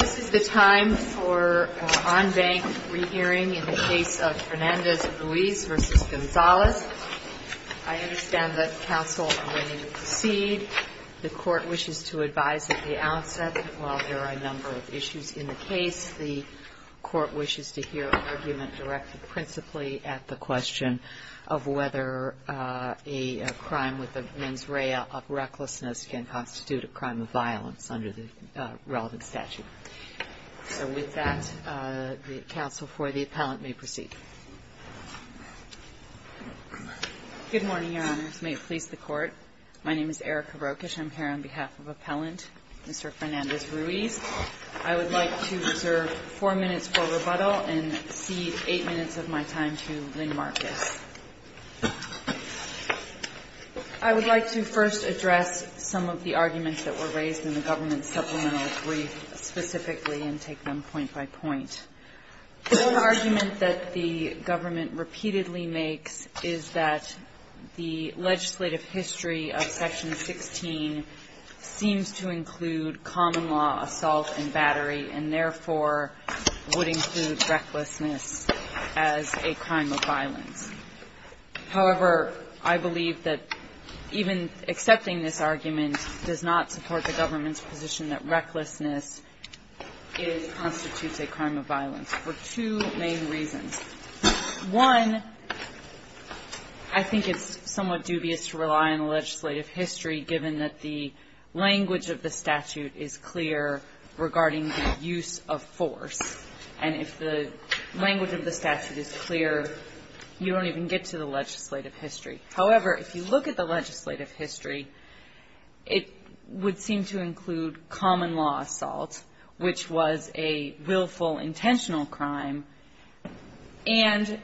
This is the time for on-bank re-hearing in the case of Fernandez-Ruiz v. Gonzalez. I understand that counsel are ready to proceed. The court wishes to advise at the outset that while there are a number of issues in the case, the court wishes to hear an argument directed principally at the question of whether a crime with a mens rea of recklessness can constitute a crime of violence under the relevant statute. So with that, the counsel for the appellant may proceed. Good morning, Your Honors. May it please the Court? My name is Erika Brokish. I'm here on behalf of Appellant Mr. Fernandez-Ruiz. I would like to reserve four minutes for rebuttal and cede eight minutes of my time to Lynn Marcus. I would like to first address some of the arguments that were raised in the government's supplemental brief specifically and take them point by point. One argument that the government repeatedly makes is that the legislative history of Section 16 seems to include common-law assault and battery and therefore would include recklessness as a crime of violence. However, I believe that even accepting this argument does not support the government's position that recklessness constitutes a crime of violence for two main reasons. One, I think it's somewhat dubious to rely on the legislative history given that the language of the statute is clear regarding the use of force. And if the language of the statute is clear, you don't even get to the legislative history. However, if you look at the legislative history, it would seem to include common-law assault, which was a willful, intentional crime, and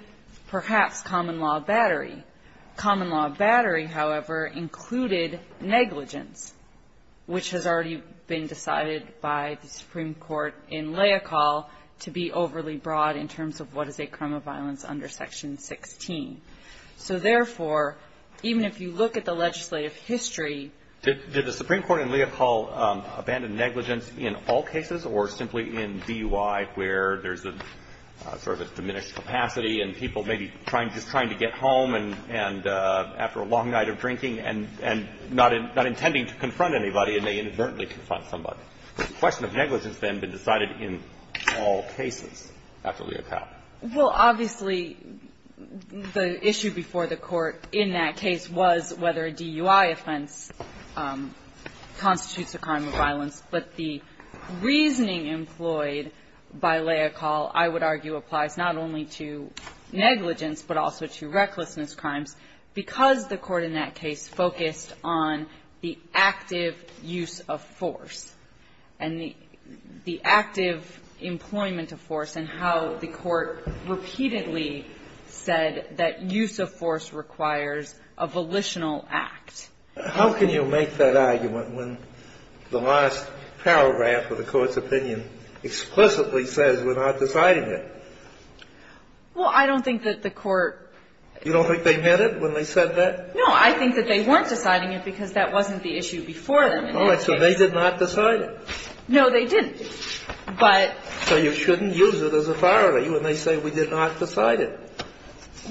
perhaps common-law battery. Common-law battery, however, included negligence, which has already been decided by the Supreme Court in Leocal to be overly broad in terms of what is a crime of violence under Section 16. So therefore, even if you look at the legislative history to the Supreme Court in Leocal abandoned negligence in all cases or simply in DUI where there's a sort of a diminished capacity and people maybe just trying to get home and after a long night of drinking and not intending to confront anybody and they inadvertently confront somebody. The question of negligence then has been decided in all cases after Leocal. Well, obviously, the issue before the Court in that case was whether a DUI offense constitutes a crime of violence. But the reasoning employed by Leocal, I would argue, applies not only to negligence but also to recklessness crimes because the Court in that case focused on the active use of force and the active employment of force and how the Court repeatedly said that use of force requires a volitional act. How can you make that argument when the last paragraph of the Court's opinion explicitly says we're not deciding it? Well, I don't think that the Court... You don't think they meant it when they said that? No, I think that they weren't deciding it because that wasn't the issue before them. All right. So they did not decide it? No, they didn't. But... So you shouldn't use it as authority when they say we did not decide it.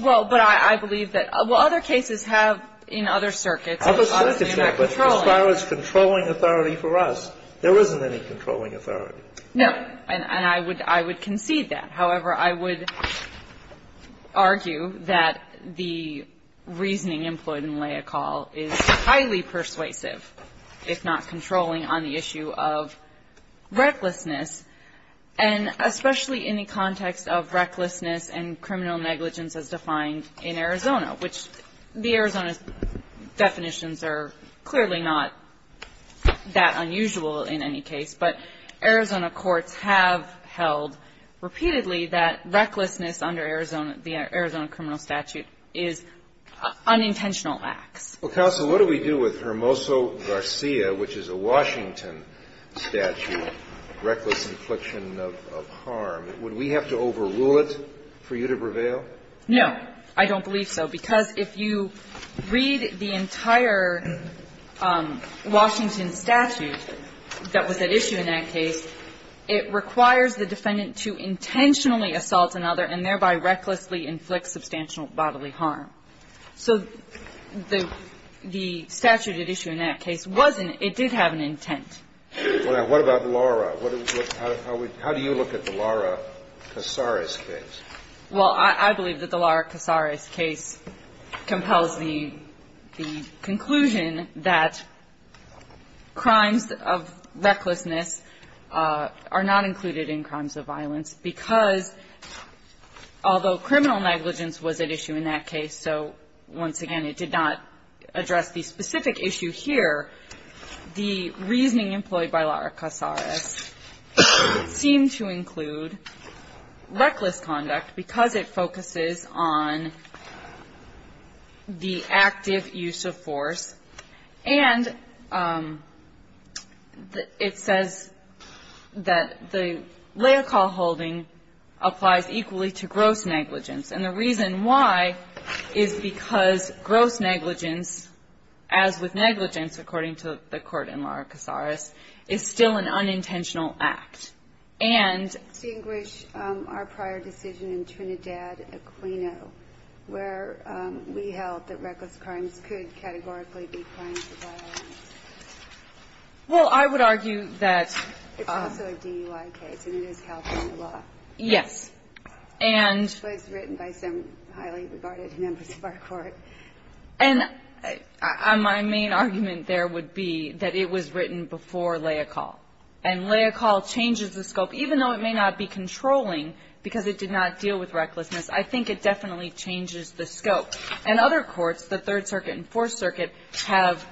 Well, but I believe that other cases have in other circuits... Other circuits have, but as far as controlling authority for us, there isn't any controlling authority. No. And I would concede that. However, I would argue that the reasoning employed in Leocal is highly persuasive, if not controlling, on the issue of recklessness and especially in the context of recklessness and criminal negligence as defined in Arizona, which the Arizona definitions are clearly not that unusual in any case. But Arizona courts have held repeatedly that recklessness under the Arizona criminal statute is unintentional acts. Well, counsel, what do we do with Hermoso Garcia, which is a Washington statute, reckless infliction of harm? Would we have to overrule it for you to prevail? No, I don't believe so, because if you read the entire Washington statute that was at issue in that case, it requires the defendant to intentionally assault another and thereby recklessly inflict substantial bodily harm. So the statute at issue in that case wasn't, it did have an intent. What about Lara? How do you look at the Lara Casares case? Well, I believe that the Lara Casares case compels the conclusion that crimes of recklessness are not included in crimes of violence, because although criminal negligence was at issue in that case, so once again it did not address the specific issue here, the reasoning employed by Lara Casares seemed to include reckless conduct because it focuses on the active use of force and it says that the reason why is because gross negligence, as with negligence according to the court in Lara Casares, is still an unintentional act. And to distinguish our prior decision in Trinidad Aquino, where we held that reckless crimes could categorically be crimes of violence. Well, I would argue that It's also a DUI case and it is held under law. Yes. And It was written by some highly regarded members of our court. And my main argument there would be that it was written before Lea Call. And Lea Call changes the scope, even though it may not be controlling because it did not deal with recklessness, I think it definitely changes the scope. And other courts, the Third Circuit and Fourth Circuit, have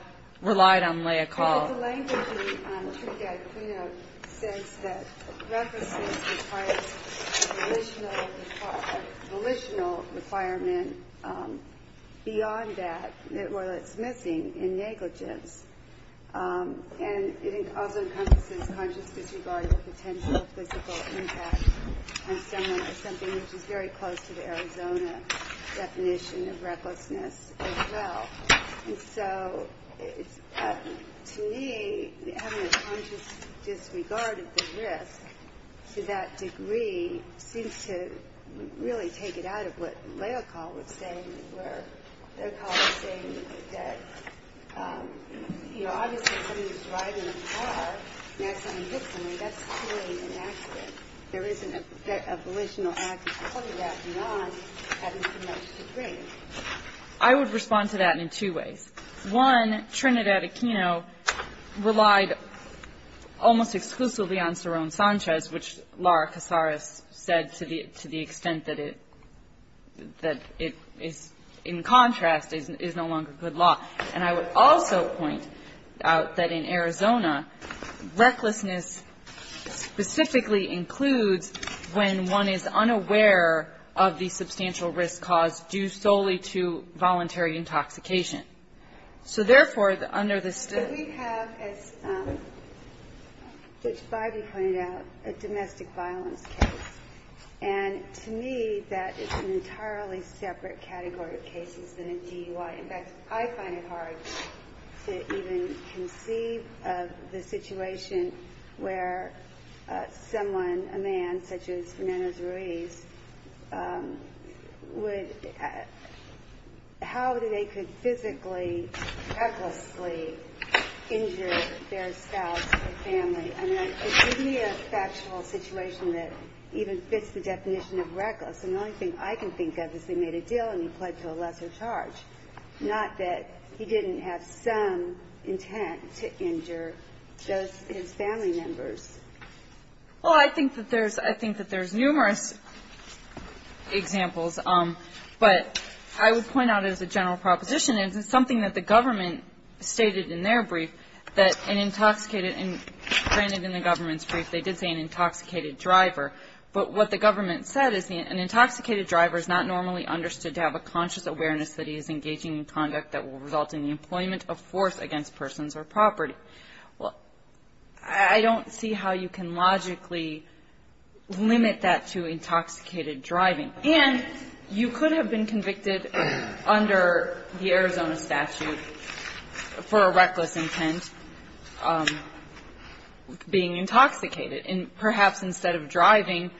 relied on Lea Call. The language in Trinidad Aquino says that recklessness requires a volitional requirement beyond that where it's missing in negligence. And it also encompasses conscious disregard for potential physical impact on someone or something which is very close to the Arizona definition of To me, having a conscious disregard of the risk to that degree seems to really take it out of what Lea Call was saying, where Lea Call was saying that you know, obviously if someone is driving a car and accidentally hits someone, that's clearly inaccurate. There isn't a volitional act of putting that beyond having too much to drink. I would respond to that in two ways. One, Trinidad Aquino relied almost exclusively on Saron Sanchez, which Laura Casares said to the extent that it is, in contrast, is no longer good law. And I would also point out that in Arizona, recklessness specifically includes when one is unaware of the substantial risk caused due solely to voluntary intoxication. So therefore, under the state... We have, as Judge Bybee pointed out, a domestic violence case. And to me, that is an entirely separate category of cases than a DUI. In fact, I find it hard to even conceive of the situation where someone, a man such as Fernando Ruiz, would... How they could physically, recklessly injure their spouse or family. I mean, it would be a factual situation that even fits the definition of reckless. And the only thing I can think of is they made a deal and he pled to a lesser charge, not that he didn't have some intent to injure his family members. Well, I think that there's numerous examples. But I would point out as a general proposition, it's something that the government stated in their brief that an intoxicated... Granted, in the government's brief, they did say an intoxicated driver. But what the government said is an intoxicated driver is not normally understood to have a conscious awareness that he is engaging in conduct that will result in the employment of force against persons or property. Well, I don't see how you can logically limit that to intoxicated driving. And you could have been convicted under the Arizona statute for a reckless intent being intoxicated. And perhaps instead of driving,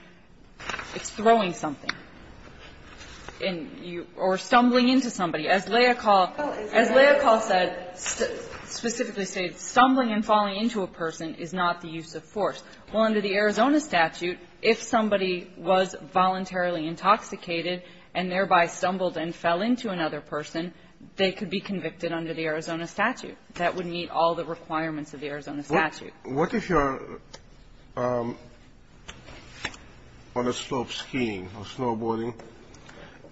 it's throwing something. Or stumbling into somebody. As Leah Kahl said, specifically stated, stumbling and falling into a person is not the use of force. Well, under the Arizona statute, if somebody was voluntarily intoxicated and thereby stumbled and fell into another person, they could be convicted under the Arizona statute. That would meet all the requirements of the Arizona statute. What if you're on a slope skiing or snowboarding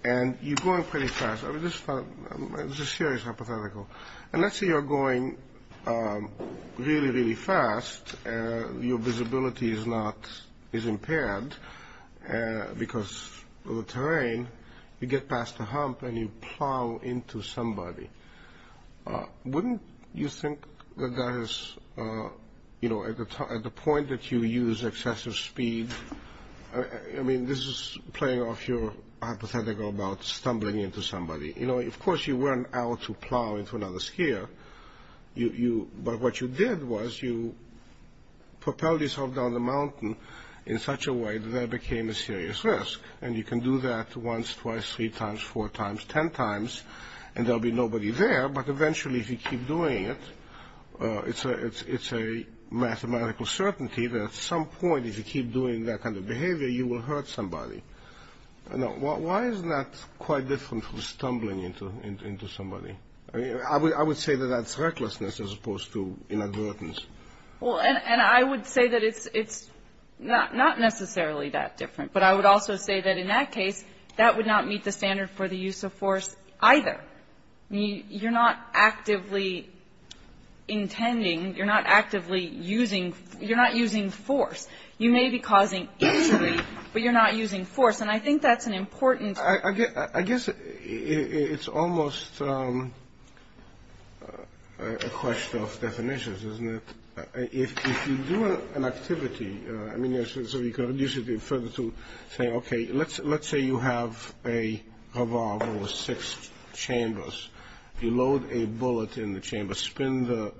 and you're going pretty fast? This is a serious hypothetical. And let's say you're going really, really fast and your visibility is impaired because of the terrain. You get past a hump and you plow into somebody. Wouldn't you think that that is, you know, at the point that you use excessive speed I mean, this is playing off your hypothetical about stumbling into somebody. You know, of course you weren't out to plow into another skier. But what you did was you propelled yourself down the mountain in such a way that there became a serious risk. And you can do that once, twice, three times, four times, ten times, and there'll be nobody there. But eventually if you keep doing it, it's a mathematical certainty that at some point if you keep doing that kind of behavior, you will hurt somebody. Why is that quite different from stumbling into somebody? I would say that that's recklessness as opposed to inadvertence. Well, and I would say that it's not necessarily that different. But I would also say that in that case, that would not meet the standard for the use of force either. You're not actively intending, you're not actively using, you're not using force. You may be causing injury, but you're not using force. And I think that's an important... I guess it's almost a question of definitions, isn't it? If you do an activity, I mean, so you can reduce it further to saying, okay, let's say you have a revolver with six chambers. You load a bullet in the chamber, spin the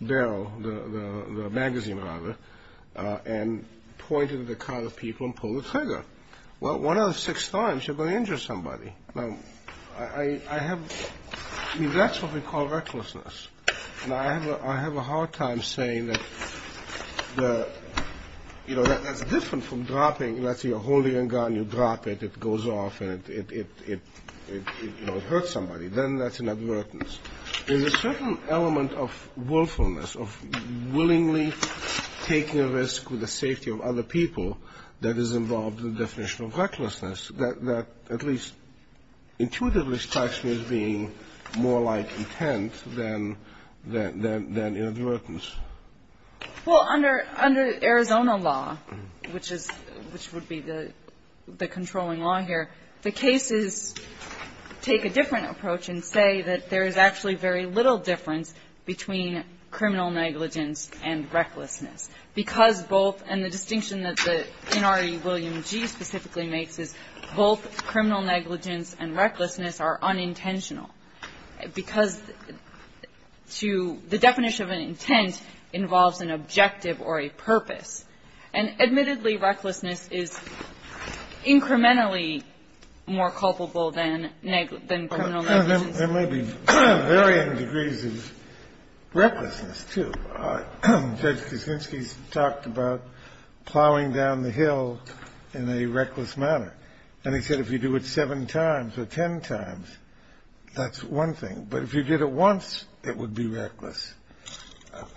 barrel, the magazine rather, and point it at a crowd of people and pull the trigger. Well, one out of six times, you're going to injure somebody. Now, I have... I mean, that's what we call recklessness. And I have a hard time saying that, you know, that's different from dropping. Let's say you're holding a gun, you drop it, it goes off and it hurts somebody. Then that's an advertence. There's a certain element of willfulness, of willingly taking a risk with the safety of other people that is involved in the definition of recklessness that at least intuitively strikes me as being more like intent than an advertence. Well, under Arizona law, which is, which would be the controlling law here, the cases take a different approach and say that there is actually very little difference between criminal negligence and recklessness. Because both, and the distinction that the NRE William G. specifically makes is both criminal negligence and recklessness are unintentional. Because to the definition of an intent involves an objective or a purpose. And admittedly, recklessness is incrementally more culpable than criminal negligence. There may be varying degrees of recklessness, too. Judge Kuczynski talked about plowing down the hill in a reckless manner. And he said if you do it seven times or ten times, that's one thing. But if you did it once, it would be reckless.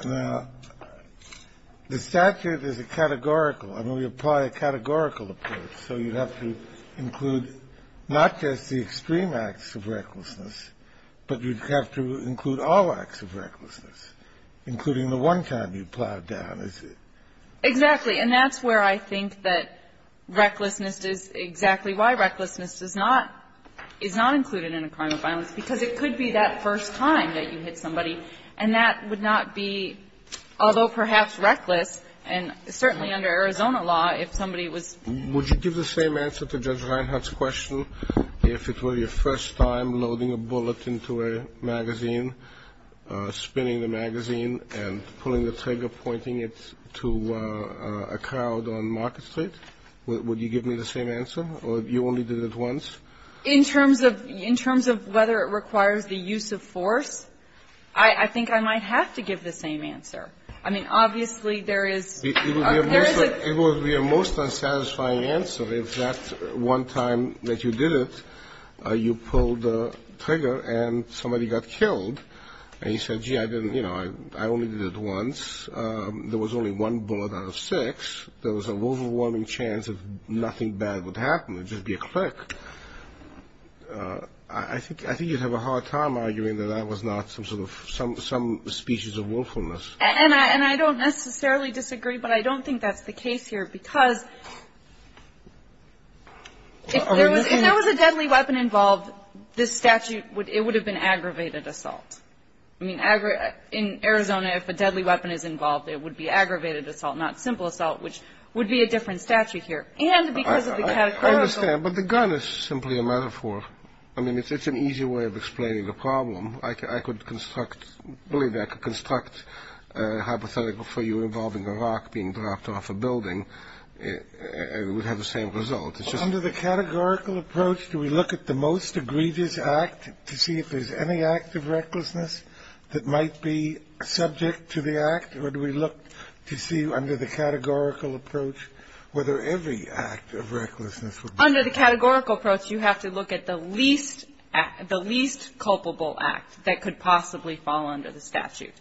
Now, the statute is a categorical, and we apply a categorical approach. So you have to include not just the extreme acts of recklessness, but you'd have to include all acts of recklessness, including the one time you plowed down, is it? Exactly. And that's where I think that recklessness is exactly why recklessness is not included in a crime of violence, because it could be that first time that you hit somebody, and that would not be, although perhaps reckless, and certainly under Arizona law, if somebody was. Would you give the same answer to Judge Reinhart's question? If it were your first time loading a bullet into a magazine, spinning the magazine, and pulling the trigger, pointing it to a crowd on Market Street, would you give me the same answer, or you only did it once? In terms of whether it requires the use of force, I think I might have to give the same answer. I mean, obviously, there is. It would be a most unsatisfying answer if that one time that you did it, you pulled the trigger, and somebody got killed, and you said, gee, I only did it once. There was only one bullet out of six. There was an overwhelming chance that nothing bad would happen. It would just be a click. I think you'd have a hard time arguing that that was not some species of willfulness. And I don't necessarily disagree, but I don't think that's the case here, because if there was a deadly weapon involved, this statute, it would have been aggravated assault. I mean, in Arizona, if a deadly weapon is involved, it would be aggravated assault, not simple assault, which would be a different statute here. And because of the categorical... I understand, but the gun is simply a metaphor. I mean, it's an easy way of explaining the problem. I could construct a hypothetical for you involving a rock being dropped off a building. It would have the same result. It's just... Under the categorical approach, do we look at the most egregious act to see if there's any act of recklessness that might be subject to the act, or do we look to see under the categorical approach whether every act of recklessness would be... Under the categorical approach, you have to look at the least culpable act that could possibly fall under the statute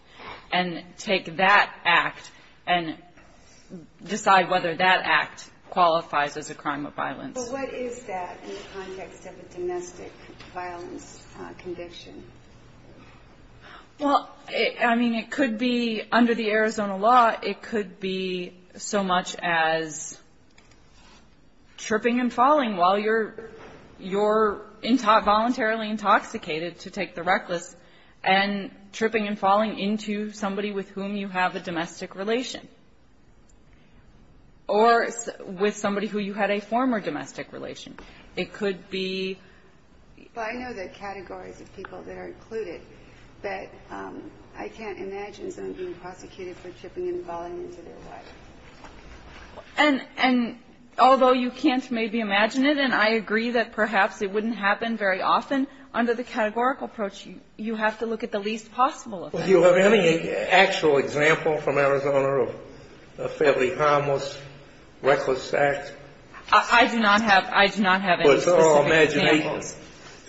and take that act and decide whether that act qualifies as a crime of violence. But what is that in the context of a domestic violence conviction? Well, I mean, it could be under the Arizona law, it could be so much as tripping and falling while you're voluntarily intoxicated to take the reckless, and tripping and falling into somebody with whom you have a domestic relation or with somebody who you had a former domestic relation. It could be... Well, I know the categories of people that are included, but I can't imagine someone being prosecuted for tripping and falling into their wife. And although you can't maybe imagine it, and I agree that perhaps it wouldn't happen very often, under the categorical approach, you have to look at the least possible of them. Do you have any actual example from Arizona of a fairly harmless reckless act? I do not have any specific examples. But it's all imagination.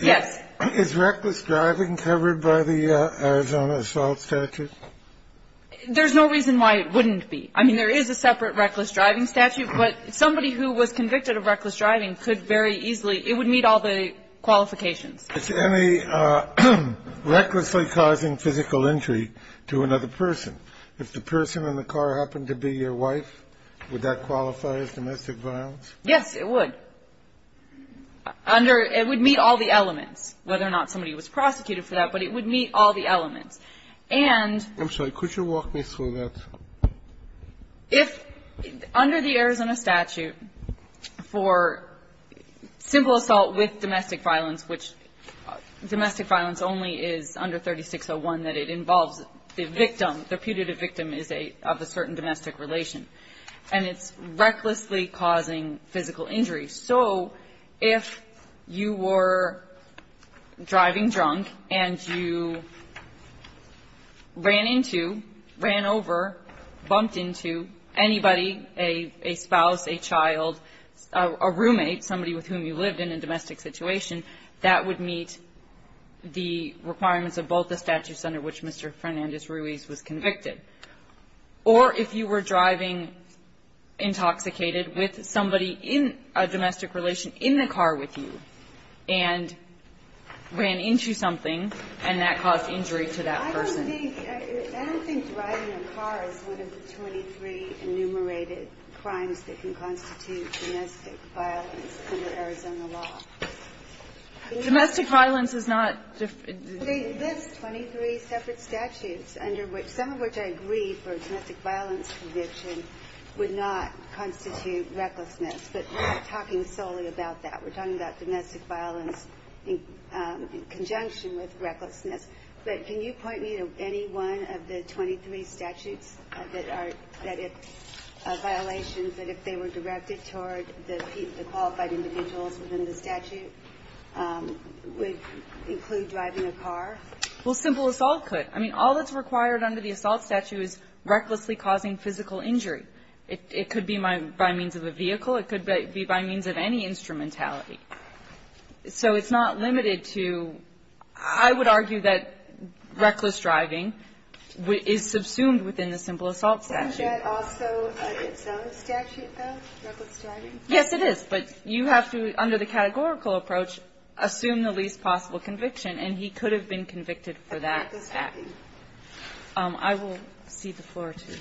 Yes. Is reckless driving covered by the Arizona assault statute? There's no reason why it wouldn't be. I mean, there is a separate reckless driving statute, but somebody who was convicted of reckless driving could very easily... It would meet all the qualifications. Is any recklessly causing physical injury to another person? If the person in the car happened to be your wife, would that qualify as domestic violence? Yes, it would. Under... It would meet all the elements, whether or not somebody was prosecuted for that, but it would meet all the elements. And... I'm sorry. Could you walk me through that? If, under the Arizona statute, for simple assault with domestic violence, which domestic violence only is under 3601, that it involves the victim, the putative victim is of a certain domestic relation, and it's recklessly causing physical injury. So if you were driving drunk and you ran into, ran over, bumped into anybody, a spouse, a child, a roommate, somebody with whom you lived in a domestic situation, that would meet the requirements of both the statutes under which Mr. Fernandez-Ruiz was convicted. Or if you were driving intoxicated with somebody in a domestic relation in the car with you and ran into something and that caused injury to that person. I don't think driving a car is one of the 23 enumerated crimes that can constitute domestic violence under Arizona law. Domestic violence is not... There's 23 separate statutes under which, some of which I agree for domestic violence conviction, would not constitute recklessness, but we're not talking solely about that. We're talking about domestic violence in conjunction with recklessness. But can you point me to any one of the 23 statutes that if violations, that if they were directed toward the qualified individuals within the statute, would include driving a car? Well, simple assault could. I mean, all that's required under the assault statute is recklessly causing physical injury. It could be by means of a vehicle. It could be by means of any instrumentality. So it's not limited to... I would argue that reckless driving is subsumed within the simple assault statute. Isn't that also its own statute, though, reckless driving? Yes, it is. But you have to, under the categorical approach, assume the least possible conviction, and he could have been convicted for that act. I will cede the floor to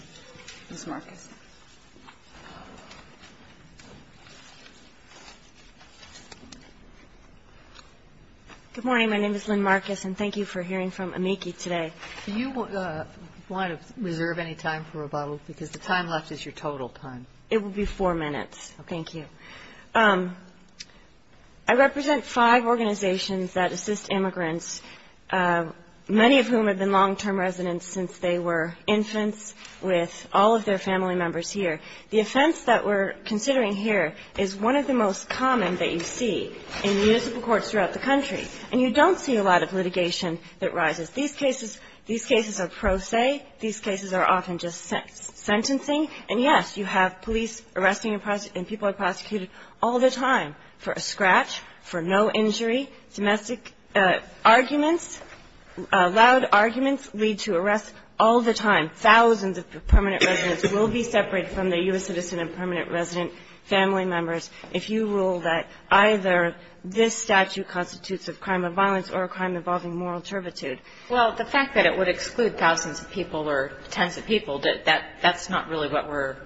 Ms. Marcus. Good morning. My name is Lynn Marcus, and thank you for hearing from amici today. Do you want to reserve any time for rebuttal? Because the time left is your total time. It will be four minutes. Thank you. I represent five organizations that assist immigrants, many of whom have been long-term residents since they were infants with all of their family members here. The offense that we're considering here is one of the most common that you see in municipal courts throughout the country. And you don't see a lot of litigation that rises. These cases are pro se. These cases are often just sentencing. And, yes, you have police arresting and people are prosecuted all the time for a scratch, for no injury. Domestic arguments, loud arguments, lead to arrests all the time. Thousands of permanent residents will be separated from their U.S. citizen and permanent resident family members if you rule that either this statute constitutes a crime of violence or a crime involving moral turpitude. Well, the fact that it would exclude thousands of people or tens of people, that's not really what we're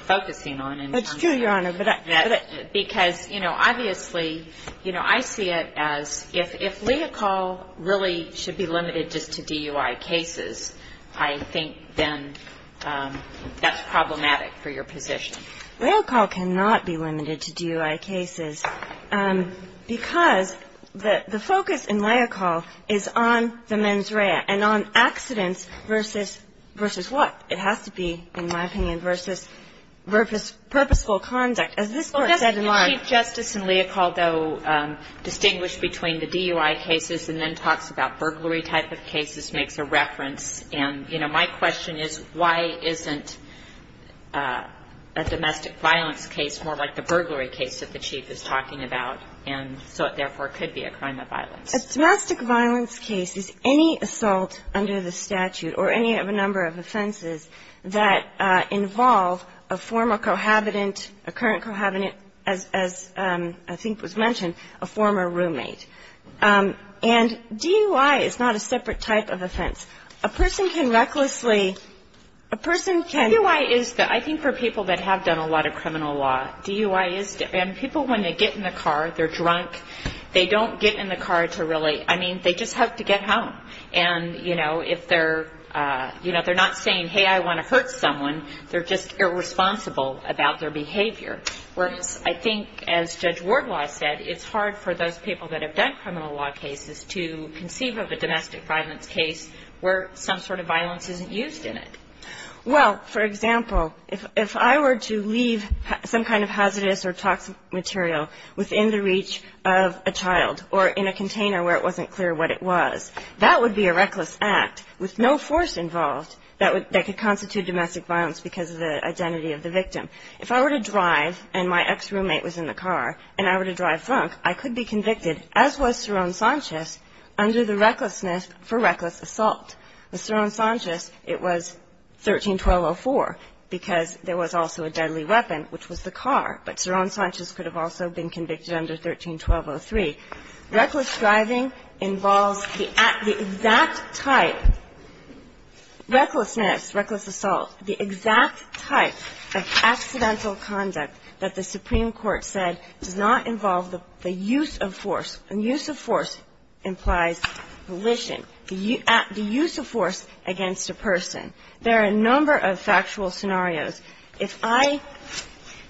focusing on. That's true, Your Honor, but I... Because, you know, obviously, I see it as, if legal really should be limited just to DUI cases, I think, then, that's problematic for your position. Leocal cannot be limited to DUI cases because the focus in Leocal is on the mens rea and on accidents versus what? It has to be, in my opinion, versus purposeful conduct. As this Court said in line... Chief Justice in Leocal, though, distinguished between the DUI cases and then talks about burglary type of cases makes a reference. And, you know, my question is why isn't a domestic violence case more like the burglary case that the Chief is talking about and so it therefore could be a crime of violence? A domestic violence case is any assault under the statute or any of a number of offenses that involve a former cohabitant, a current cohabitant, as I think was mentioned, a former roommate. And DUI is not a separate type of offense. A person can recklessly... A person can... DUI is... I think for people that have done a lot of criminal law, DUI is... And people, when they get in the car, they're drunk, they don't get in the car to really... I mean, they just have to get home. And, you know, if they're not saying, hey, I want to hurt someone, they're just irresponsible about their behavior. Whereas, I think, as Judge Wardlaw said, it's hard for those people that have done criminal law cases to conceive of a domestic violence case where some sort of violence isn't used in it. Well, for example, if I were to leave some kind of hazardous or toxic material within the reach of a child or in a container where it wasn't clear what it was, that would be a reckless act with no force involved that could constitute domestic violence because of the identity of the victim. If I were to drive, and my ex-roommate was in the car, and I were to drive drunk, I could be convicted, as was Saron Sanchez, under the recklessness for reckless assault. With Saron Sanchez, it was 13-1204, because there was also a deadly weapon, which was the car. But Saron Sanchez could have also been convicted under 13-1203. Reckless driving involves the exact type of recklessness, reckless assault, the exact type of accidental conduct that the Supreme Court said does not involve the use of force. And use of force implies volition. The use of force against a person. There are a number of factual scenarios. If I,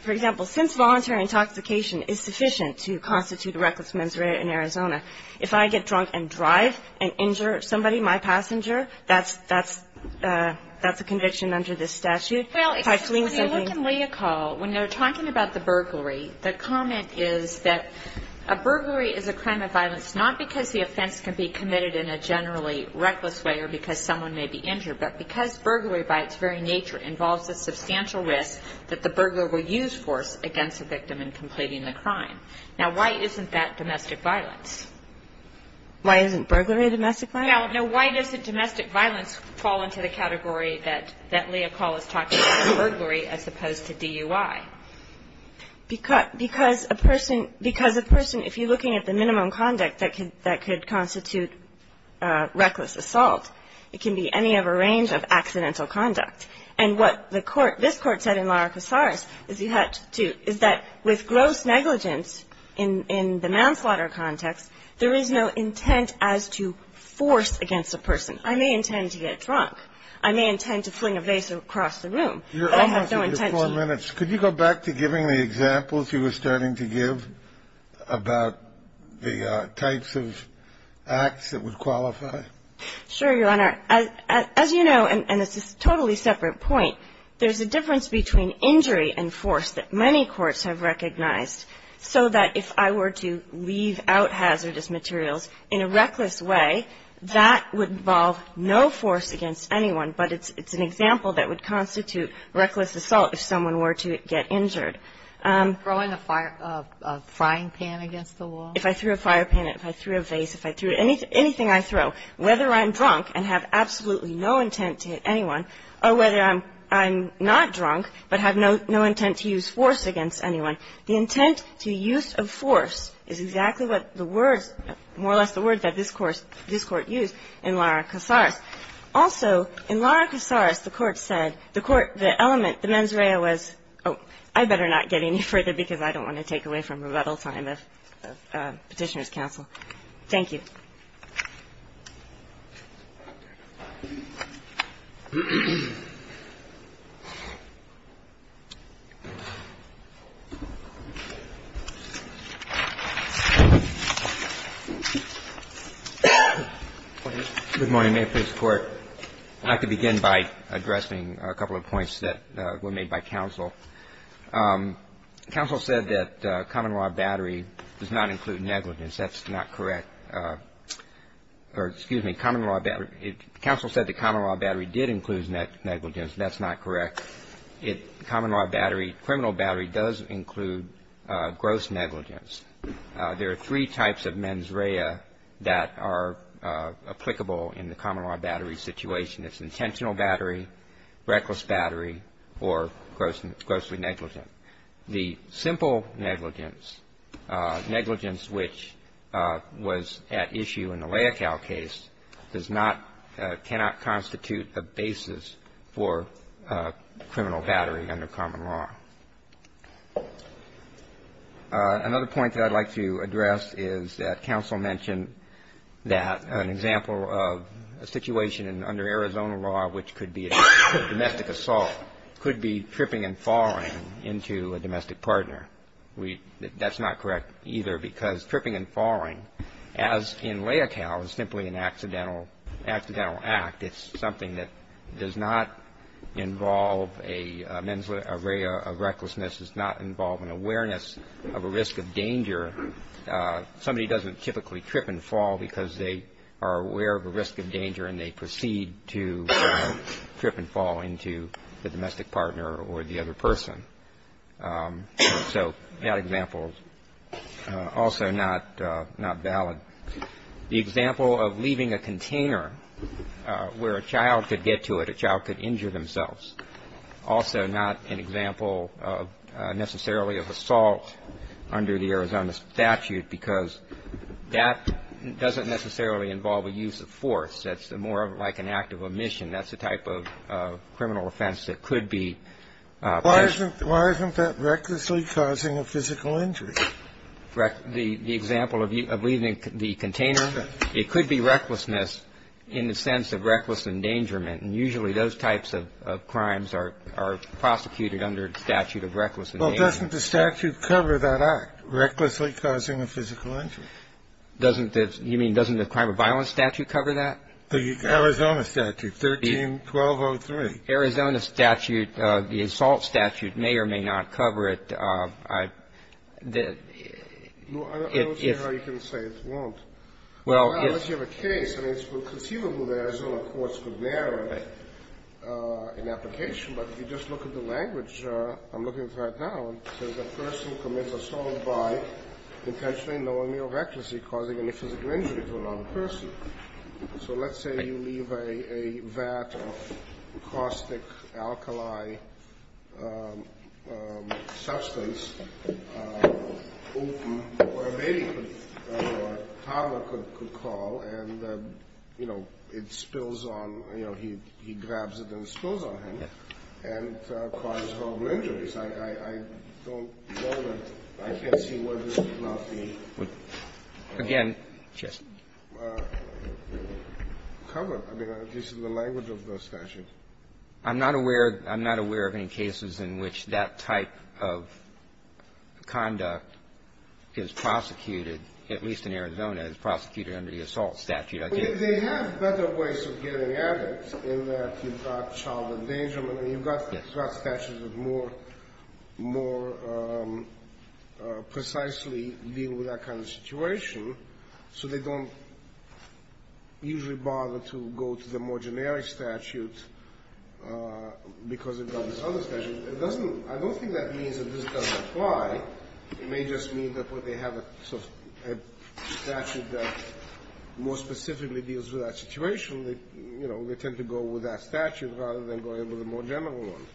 for example, since voluntary intoxication is sufficient to constitute a reckless mens rea in Arizona, if I get drunk and drive and injure somebody, my passenger, that's a conviction under this statute. When you look in Leocal, when they're talking about the burglary, the comment is that a burglary is a crime of violence not because the offense can be committed in a generally reckless way or because someone may be injured, but because burglary by its very nature involves a substantial risk that the burglar will use force against the victim in completing the crime. Now, why isn't that domestic violence? Why isn't burglary domestic violence? Now, why doesn't domestic violence fall into the category that Leocal is talking about, burglary, as opposed to DUI? Because a person, if you're looking at the minimum conduct that could constitute reckless assault, it can be any of a range of accidental conduct. And what this Court said in Lara Casares is that with gross negligence in the manslaughter context, there is no intent as to force against a person. I may intend to get drunk. I may intend to fling a vase across the room, but I have no intent to. Could you go back to giving the examples you were starting to give about the types of acts that would qualify? Sure, Your Honor. As you know, and this is a totally separate point, there's a difference between injury and force that many courts have recognized, so that if I were to leave out hazardous materials in a reckless way, that would involve no force against anyone, but it's an example that would constitute reckless assault if someone were to get injured. Throwing a fire pan against the wall? If I threw a fire pan, if I threw a vase, if I threw anything I throw, whether I'm drunk and have absolutely no intent to hit anyone, or whether I'm not drunk, but have no intent to use force against anyone. The intent to use of force is exactly what the words, more or less the words that this court used in Lara Casares. Also, in Lara Casares the court said, the court, the element, the mens rea was, oh, I better not get any further because I don't want to take away from rebuttal time of Petitioner's Counsel. Thank you. Good morning. May it please the court. I'd like to begin by addressing a couple of points that were made by counsel. Counsel said that common law battery does not include negligence. That's not correct. Or, excuse me, counsel said that common law battery negligence. That's not correct. The common law battery does not include negligence. That's not correct. The common law battery, criminal battery, does include gross negligence. There are three types of mens rea that are applicable in the common law battery situation. It's intentional battery, reckless battery, or grossly negligent. The simple negligence, negligence which was at issue in the Leocal case, does not, cannot constitute a basis for criminal battery under common law. Another point that I'd like to address is that counsel mentioned that an example of a situation under Arizona law which could be domestic assault could be tripping and falling into a domestic partner. That's not correct either because tripping and falling, as in Leocal, is simply an accidental act. It's something that does not involve a mens rea of recklessness. It does not involve an awareness of a risk of danger. Somebody doesn't typically trip and fall because they are aware of a risk of danger and they proceed to trip and fall into the domestic partner or the other person. So that example is also not valid. The example of leaving a container where a child could get to it, a child could injure themselves, also not an example of necessarily of assault under the Arizona statute because that doesn't necessarily involve a use of force. That's more like an act of omission. That's a type of criminal offense that could be Why isn't that recklessly causing a physical injury? The example of leaving the container, it could be recklessness in the sense of reckless endangerment and usually those types of crimes are prosecuted under the statute of reckless endangerment. Doesn't the statute cover that act, recklessly causing a physical injury? You mean doesn't the crime of violence statute cover that? The Arizona statute, 13-1203. The Arizona statute, the assault statute, may or may not cover it. I don't see how you can say it won't. Well, if you have a case, and it's conceivable that Arizona courts could narrow it in application, but if you just look at the language I'm looking at right now, it says a person commits assault by intentionally knowingly or recklessly causing a physical injury to another person. So let's say you leave a vat of caustic alkali substance open or a baby toddler could call and, you know, it spills on you know, he grabs it and spills on him and causes horrible injuries. I don't know that I can't see where this would not be covered. I mean, this is the language of the statute. I'm not aware I'm not aware of any cases in which that type of substance is prosecuted, at least in Arizona is prosecuted under the assault statute. They have better ways of getting at it, in that you've got child endangerment, and you've got statutes that more more precisely deal with that kind of situation, so they don't usually bother to go to the more generic statute because they've got this other statute. I don't think that means that this doesn't apply. It may just mean that when they have a statute that more specifically deals with that situation, they tend to go with that statute rather than going with the more general one.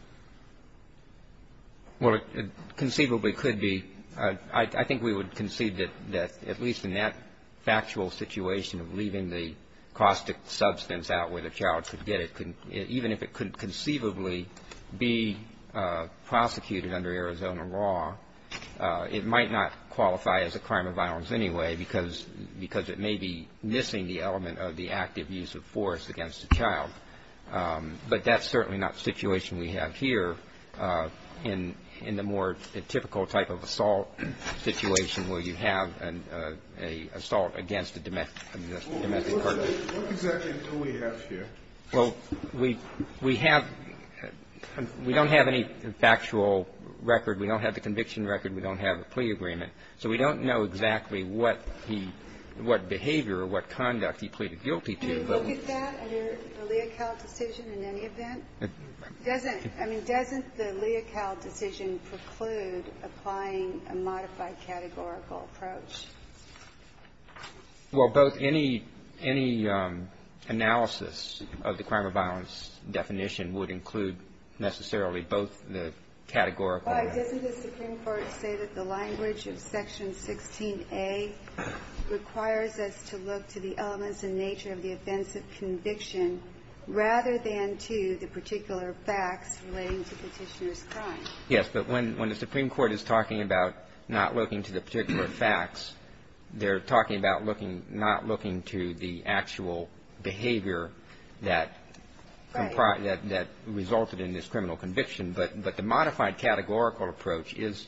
Well, it conceivably could be I think we would concede that at least in that factual situation of leaving the caustic substance out where the child could get it even if it could conceivably be prosecuted under Arizona law it might not qualify as a crime of violence anyway because it may be missing the element of the active use of force against the child but that's certainly not the situation we have here in the more typical type of assault situation where you have an assault against a domestic partner. What exactly do we have here? Well, we have we don't have any factual record. We don't have the conviction record. We don't have a plea agreement so we don't know exactly what behavior or what conduct he pleaded guilty to. Can you look at that under the Leocal decision in any event? Doesn't the Leocal decision preclude applying a modified categorical approach? Well, both any analysis of the crime of violence definition would include necessarily both the categorical... Why doesn't the Supreme Court say that the language of Section 16A requires us to look to the elements and nature of the events of conviction rather than to the particular facts relating to petitioner's crime? Yes, but when the Supreme Court is talking about not looking to the particular facts they're talking about not looking to the actual behavior that resulted in this criminal conviction. But the modified categorical approach is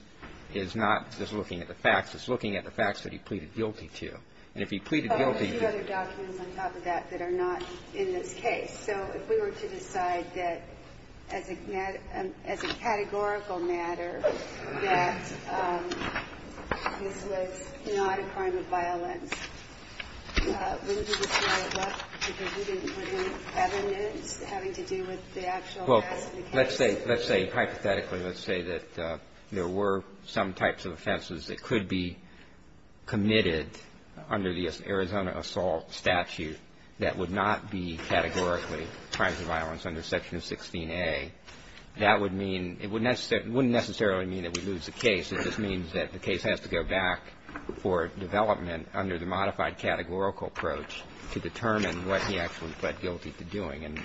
not just looking at the facts it's looking at the facts that he pleaded guilty to and if he pleaded guilty... Oh, there's a few other documents on top of that that are not in this case. So if we were to decide that as a categorical matter that this was not a crime of violence wouldn't you say that because you didn't include evidence having to do with the actual facts of the case? Well, let's say hypothetically, let's say that there were some types of offenses that could be committed under the Arizona Assault Statute that would not be categorically crimes of violence under Section 16A that would mean, it wouldn't necessarily mean that we lose the case, it just means that the case has to go back for development under the modified categorical approach to determine what he actually pled guilty to doing and...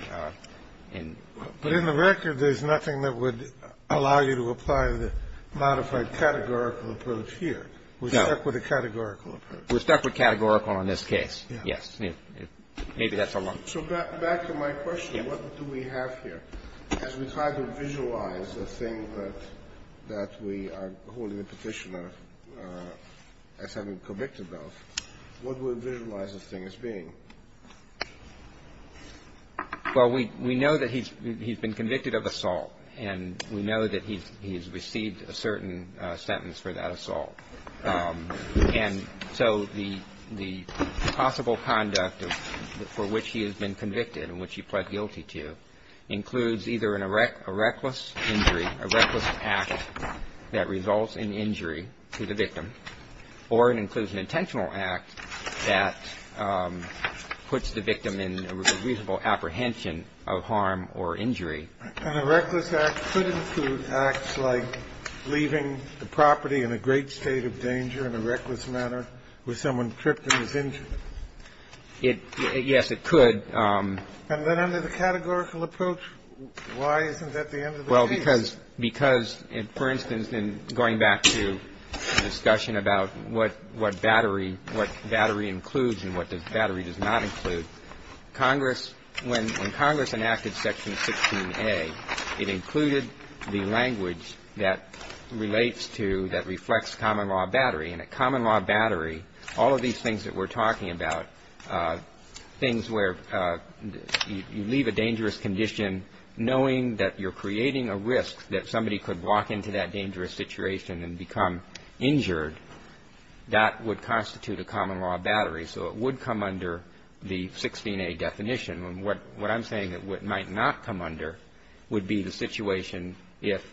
But in the record there's nothing that would allow you to apply the modified categorical approach here No. We're stuck with a categorical approach. We're stuck with categorical in this case. Yes. Maybe that's a... So back to my question, what do we have here? As we try to visualize the thing that we are holding a petition as having been convicted of what would visualize this thing as being? Well, we know that he's been convicted of assault and we know that he's received a certain sentence for that assault and so the possible conduct for which he has been convicted and which he pled guilty to includes either a reckless injury, a reckless act that results in injury to the victim or it includes an intentional act that puts the victim in reasonable apprehension of harm or injury. And a reckless act could include acts like leaving the property in a great state of danger in a reckless manner with someone tripped and is injured? Yes, it could. And then under the categorical approach why isn't that the end of the case? Well, because for instance in going back to the discussion about what battery includes and what battery does not include Congress, when Congress enacted Section 16A it included the language that relates to that reflects common law battery and a common law battery all of these things that we're talking about things where you leave a dangerous condition knowing that you're creating a risk that somebody could walk into that dangerous situation and become injured that would constitute a common law battery so it would come under the 16A definition and what I'm saying it might not come under would be the situation if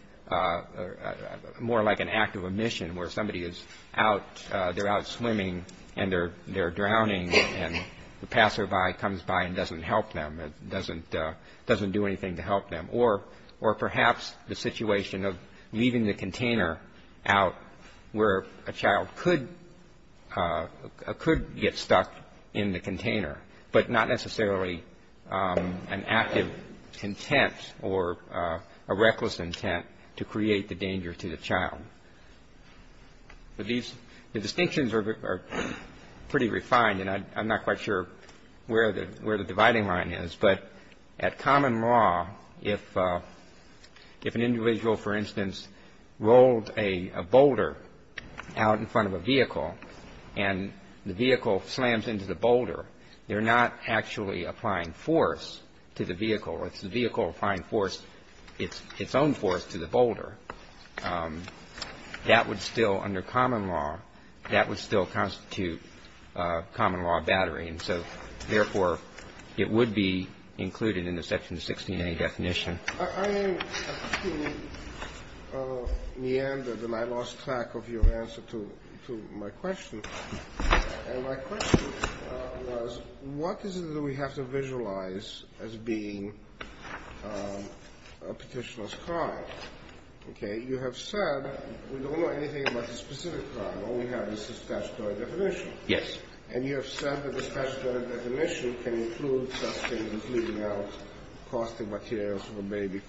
more like an act of omission where somebody is out they're out swimming and they're drowning and the passerby comes by and doesn't help them doesn't do anything to help them or perhaps the situation of leaving the container out where a child could get stuck in the container but not necessarily an active intent or a reckless intent to create the danger to the child the distinctions are pretty refined and I'm not quite sure where the dividing line is but at common law if an individual for instance rolled a boulder out in front of a vehicle and the vehicle slams into the boulder they're not actually applying force to the vehicle it's the vehicle applying force it's own force to the boulder that would still under common law that would still constitute common law battery and so therefore it would be included in the section 16a definition I am meandered and I lost track of your answer to my question and my question was what is it that we have to visualize as being a petitioner's crime you have said we don't know anything about the specific crime all we have is the statutory definition and you have said that the statutory definition can include such things as leaving out caustic materials so a baby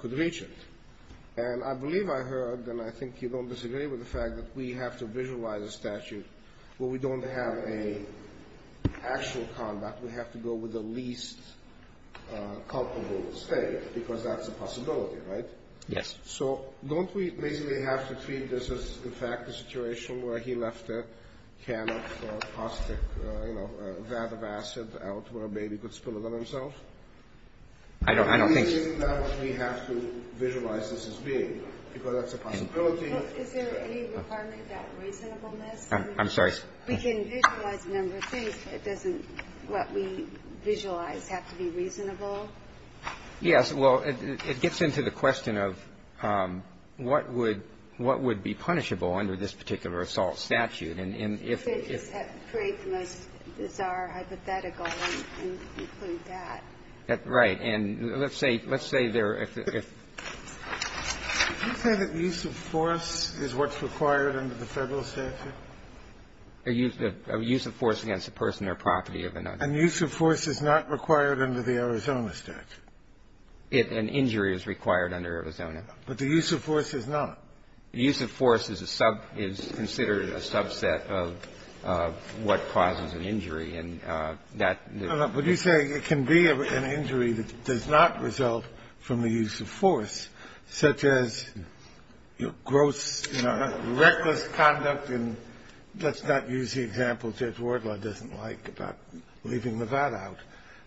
could reach it and I believe I heard and I think you don't disagree with the fact that we have to visualize a statute where we don't have a actual combat we have to go with the least culpable state because that's a possibility, right? so don't we basically have to treat this as in fact a situation where he left a can of caustic a vat of acid out where a baby could spill it on himself I don't think we have to visualize this as being because that's a possibility is there any requirement that reasonableness I'm sorry we can visualize number three but doesn't what we visualize have to be reasonable yes well it gets into the question of what would be punishable under this particular assault statute create the most bizarre hypothetical right let's say did you say that use of force is what's required under the federal statute use of force against a person or property of another and use of force is not required under the Arizona statute an injury is required under Arizona but the use of force is not the use of force is considered a subset of what causes an injury and that but you say it can be an injury that does not result from the use of force such as gross reckless conduct let's not use the example that Judge Wardlaw doesn't like about leaving the vat out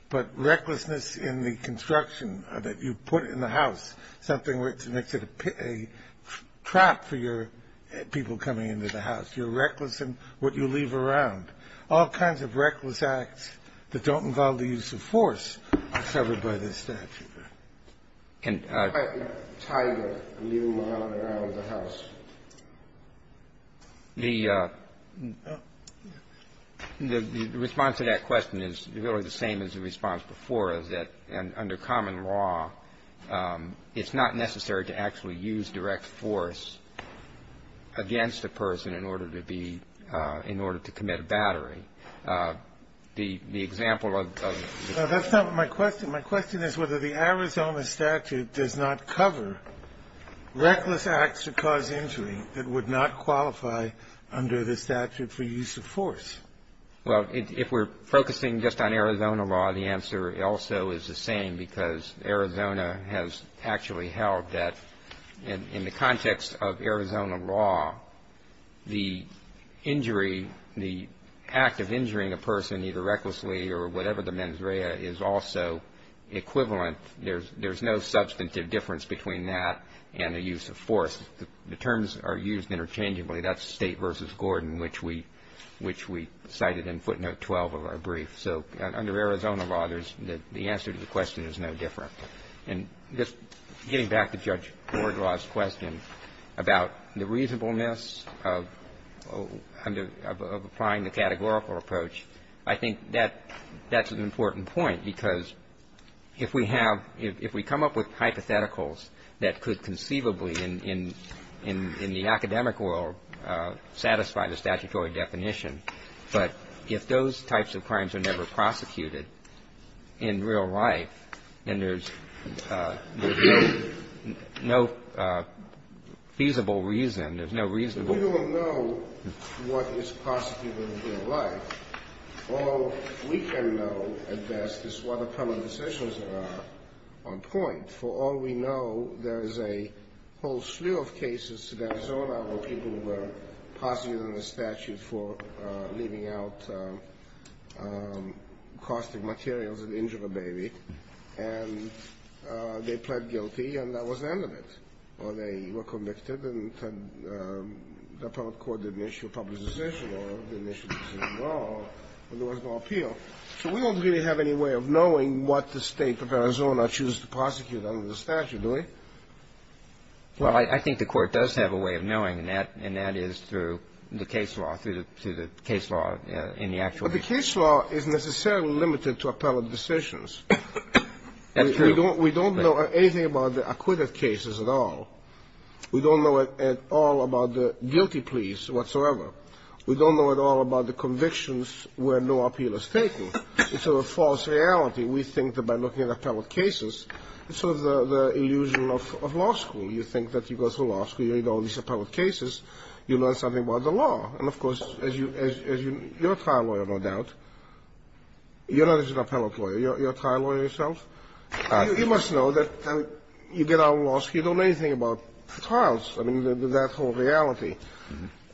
but recklessness in the construction that you put in the house something which makes it a trap for your people coming into the house you're reckless in what you leave around all kinds of reckless acts that don't involve the use of force are covered by this statute can a tiger leave a vat around the house the the response to that question is really the same as the response before is that under common law it's not necessary to actually use direct force against a person in order to be in order to commit battery the example of my question is whether the Arizona statute does not cover reckless acts to cause injury that would not qualify under the statute for use of force well if we're focusing just on Arizona law the answer also is the same because Arizona has actually held that in the context of Arizona law the injury the act of injuring a person either recklessly or whatever the mens rea is also equivalent there's no substantive difference between that and the use of force the terms are used interchangeably that's state vs. Gordon which we cited in footnote 12 of our brief so under Arizona law there's the answer to the question is no different and just getting back to Judge Wardlaw's question about the reasonableness of applying the categorical approach I think that's an important point because if we have if we come up with hypotheticals that could conceivably in the academic world satisfy the statutory definition but if those types of crimes are never prosecuted in real life and there's no feasible reason you don't know what is prosecutable in real life all we can know at best is what the public decisions are on point for all we know there's a whole slew of cases in Arizona where people were prosecuted under statute for leaving out caustic materials and injured a baby and they pled guilty and that was the end of it or they were convicted and the appellate court didn't issue a public decision or didn't issue a decision at all so we don't really have any way of knowing what the state of Arizona choose to prosecute under the statute do we well I think the court does have a way of knowing and that is through the case law but the case law is necessarily limited to appellate decisions that's true we don't know anything about the acquitted cases at all we don't know at all about the guilty pleas whatsoever we don't know at all about the convictions where no appeal is taken it's a false reality we think that by looking at appellate cases it's sort of the illusion of law school you think that you go through law school you read all these appellate cases you learn something about the law you're a trial lawyer no doubt you're not just an appellate lawyer you're a trial lawyer yourself you must know that you get out of law school you don't know anything about trials, that whole reality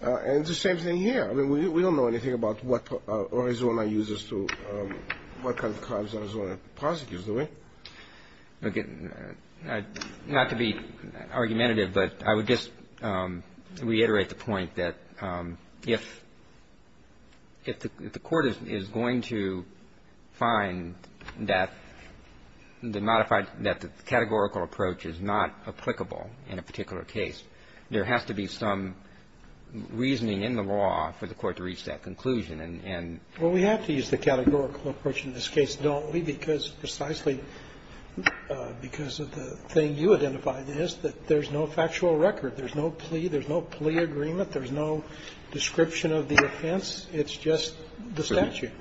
and the same thing here we don't know anything about what Arizona uses to what kind of crimes Arizona prosecutes do we not to be argumentative but I would just reiterate the point that if the court is going to find that the categorical approach is not applicable in a particular case there has to be some reasoning in the law for the court to reach that conclusion we have to use the categorical approach in this case don't we because precisely because of the thing you identified is that there's no factual record there's no plea there's no plea agreement there's no description of the offense it's just the statute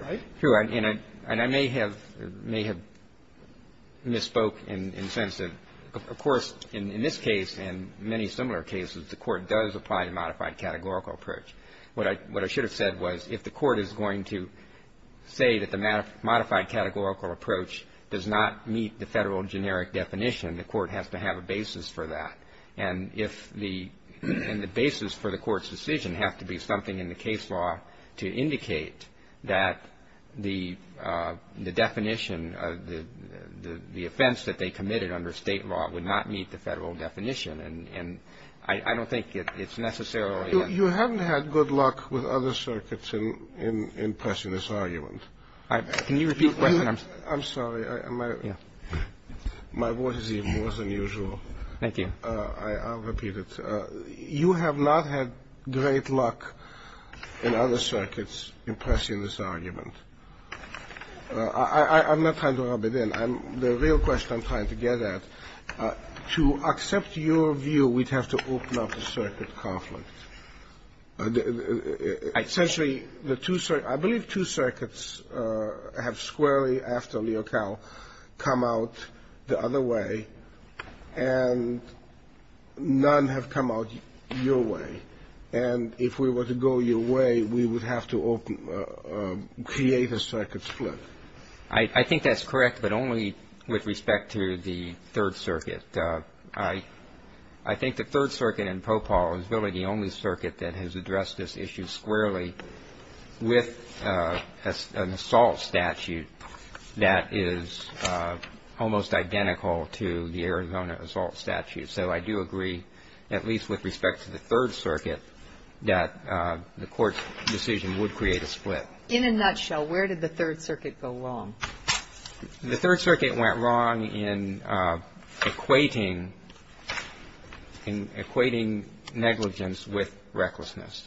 and I may have misspoke in the sense that of course in this case and many similar cases the court does apply a modified categorical approach what I should have said was if the court is going to say that the modified categorical approach does not meet the federal generic definition the court has to have a basis for that and if the basis for the court's decision has to be something in the case law to indicate that the definition of the offense that they committed under state law would not meet the federal definition I don't think it's necessarily you haven't had good luck with other circuits in pressing this argument I'm sorry my voice is even more than usual I'll repeat it you have not had great luck in other circuits in pressing this argument I'm not trying to rub it in the real question I'm trying to get at to accept your view we'd have to open up a circuit conflict essentially I believe two circuits have squarely after Leocal come out the other way and none have come out your way and if we were to go your way we would have to open create a circuit split I think that's correct but only with respect to the third circuit I think the third circuit in is really the only circuit that has addressed this issue squarely with an assault statute that is almost identical to the Arizona assault statute so I do agree at least with respect to the third circuit that the court's decision would create a split in a nutshell where did the third circuit go wrong the third circuit went wrong in equating equating negligence with recklessness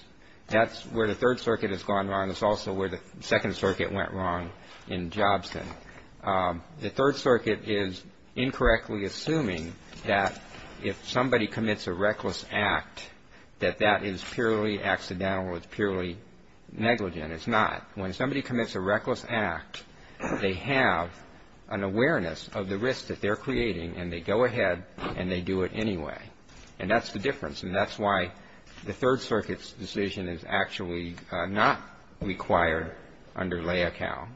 that's where the third circuit has gone wrong it's also where the second circuit went wrong in Jobson the third circuit is incorrectly assuming that if somebody commits a reckless act that that is purely accidental it's purely negligent it's not when somebody commits a reckless act they have an awareness of the risk that they're creating and they go ahead and they do it anyway and that's the difference and that's why the third circuit decision is actually not required under lay account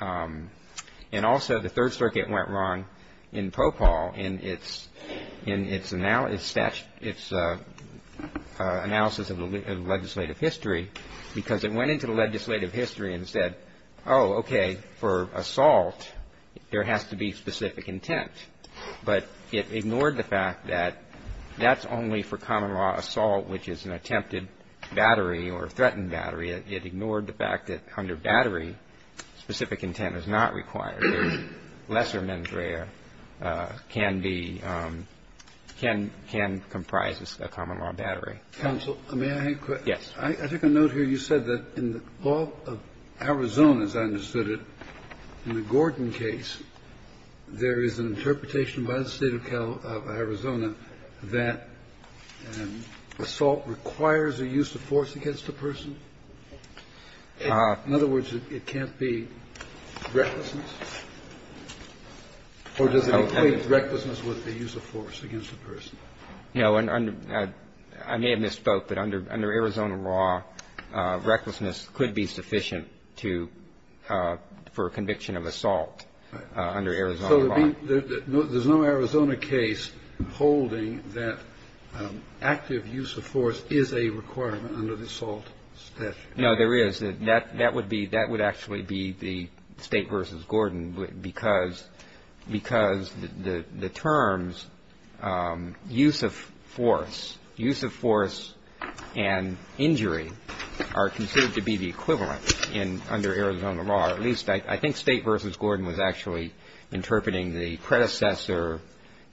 and also the third circuit went wrong in Popal in its analysis in its analysis of the legislative history because it went into the legislative history and said oh okay for assault there has to be specific intent but it ignored the fact that that's only for common law assault which is an attempted battery or threatened battery it ignored the fact that under battery specific intent is not required lesser can be can comprise a common law battery yes I take a note here you said that in the law of Arizona as I understood it in the Gordon case there is an interpretation by the state of Arizona that assault requires a use of force against a person in other words it can't be recklessness or does it equate recklessness with the use of force against a person I may have misspoke but under Arizona law recklessness could be sufficient to for conviction of assault under Arizona law there's no Arizona case holding that active use of force is a requirement under the assault statute no there is that would actually be the state versus Gordon because the terms use of force use of force and injury are considered to be the equivalent under Arizona law I think state versus Gordon was actually interpreting the predecessor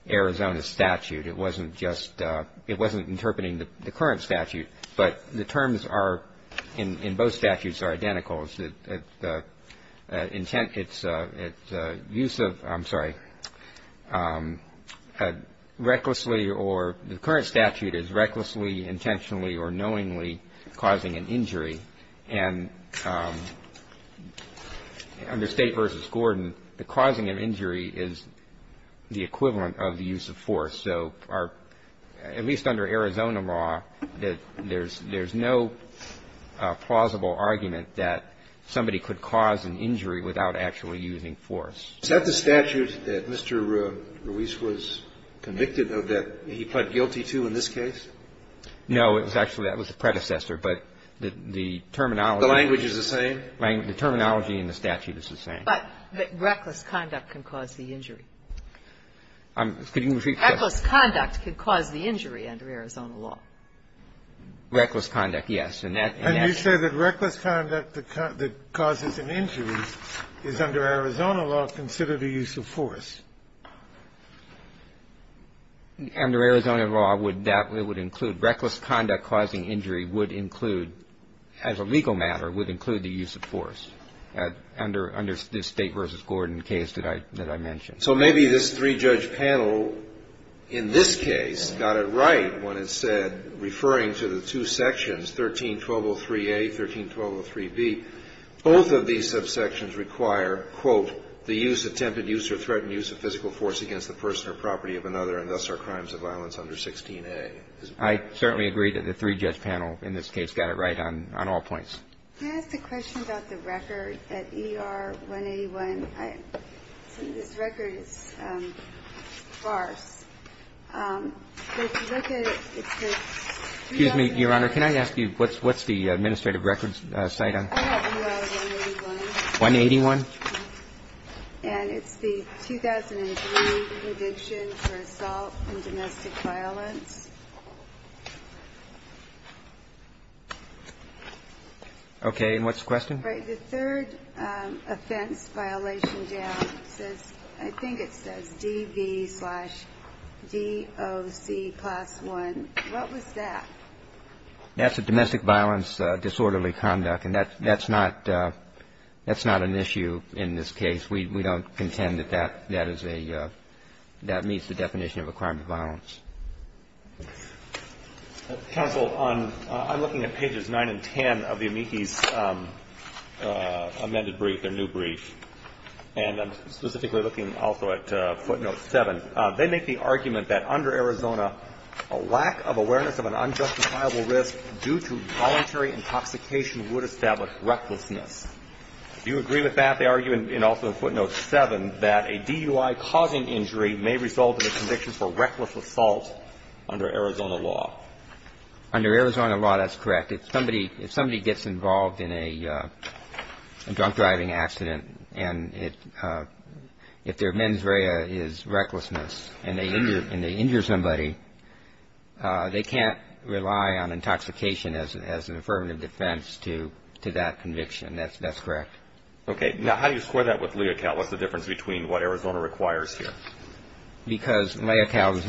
Arizona statute it wasn't interpreting the current statute but the terms in both statutes are identical the current statute is recklessly intentionally or knowingly causing an injury and under state versus Gordon the causing of injury is the equivalent of the use of force at least under Arizona law there's no plausible argument that somebody could cause an injury without actually using force is that the statute that Mr. Ruiz was convicted of that he pled guilty to in this case no it was actually that was the predecessor but the terminology in the statute is the same but reckless conduct can cause the injury reckless conduct can cause the injury under Arizona law reckless conduct yes and you say that reckless conduct that causes an injury is under Arizona law considered a use of force under Arizona law it would include reckless conduct causing injury would include as a legal matter would include the use of force under this state versus Gordon case that I mentioned so maybe this three judge panel in this case got it right when it said referring to the two sections 13.203a 13.203b both of these subsections require quote the use attempted use or threatened use of physical force against the person or property of another and thus are crimes of violence under 16a I certainly agree that the three judge panel in this case got it right on all points can I ask a question about the record at ER 181 this record is sparse excuse me your honor can I ask you what's the administrative records 181 181 and it's the 2003 assault and domestic violence okay and what's the question the third offense violation down I think it says DV slash DOC plus one what was that that's a domestic violence disorderly conduct and that's not that's not an issue in this case we don't contend that that that is a that meets the definition of a crime of violence counsel I'm looking at pages 9 and 10 of the amici's amended brief their new brief and I'm specifically looking also at footnote 7 they make the argument that under Arizona a lack of awareness of an unjustifiable risk due to voluntary intoxication would establish recklessness do you agree with that they argue in footnote 7 that a DUI causing injury may result in a conviction for reckless assault under Arizona law under Arizona law that's correct if somebody gets involved in a drunk driving accident and if their mens rea is recklessness and they injure somebody they can't rely on intoxication as an affirmative defense to that conviction that's correct okay now how do you score that with Leocal what's the difference between what Arizona requires here because Leocal does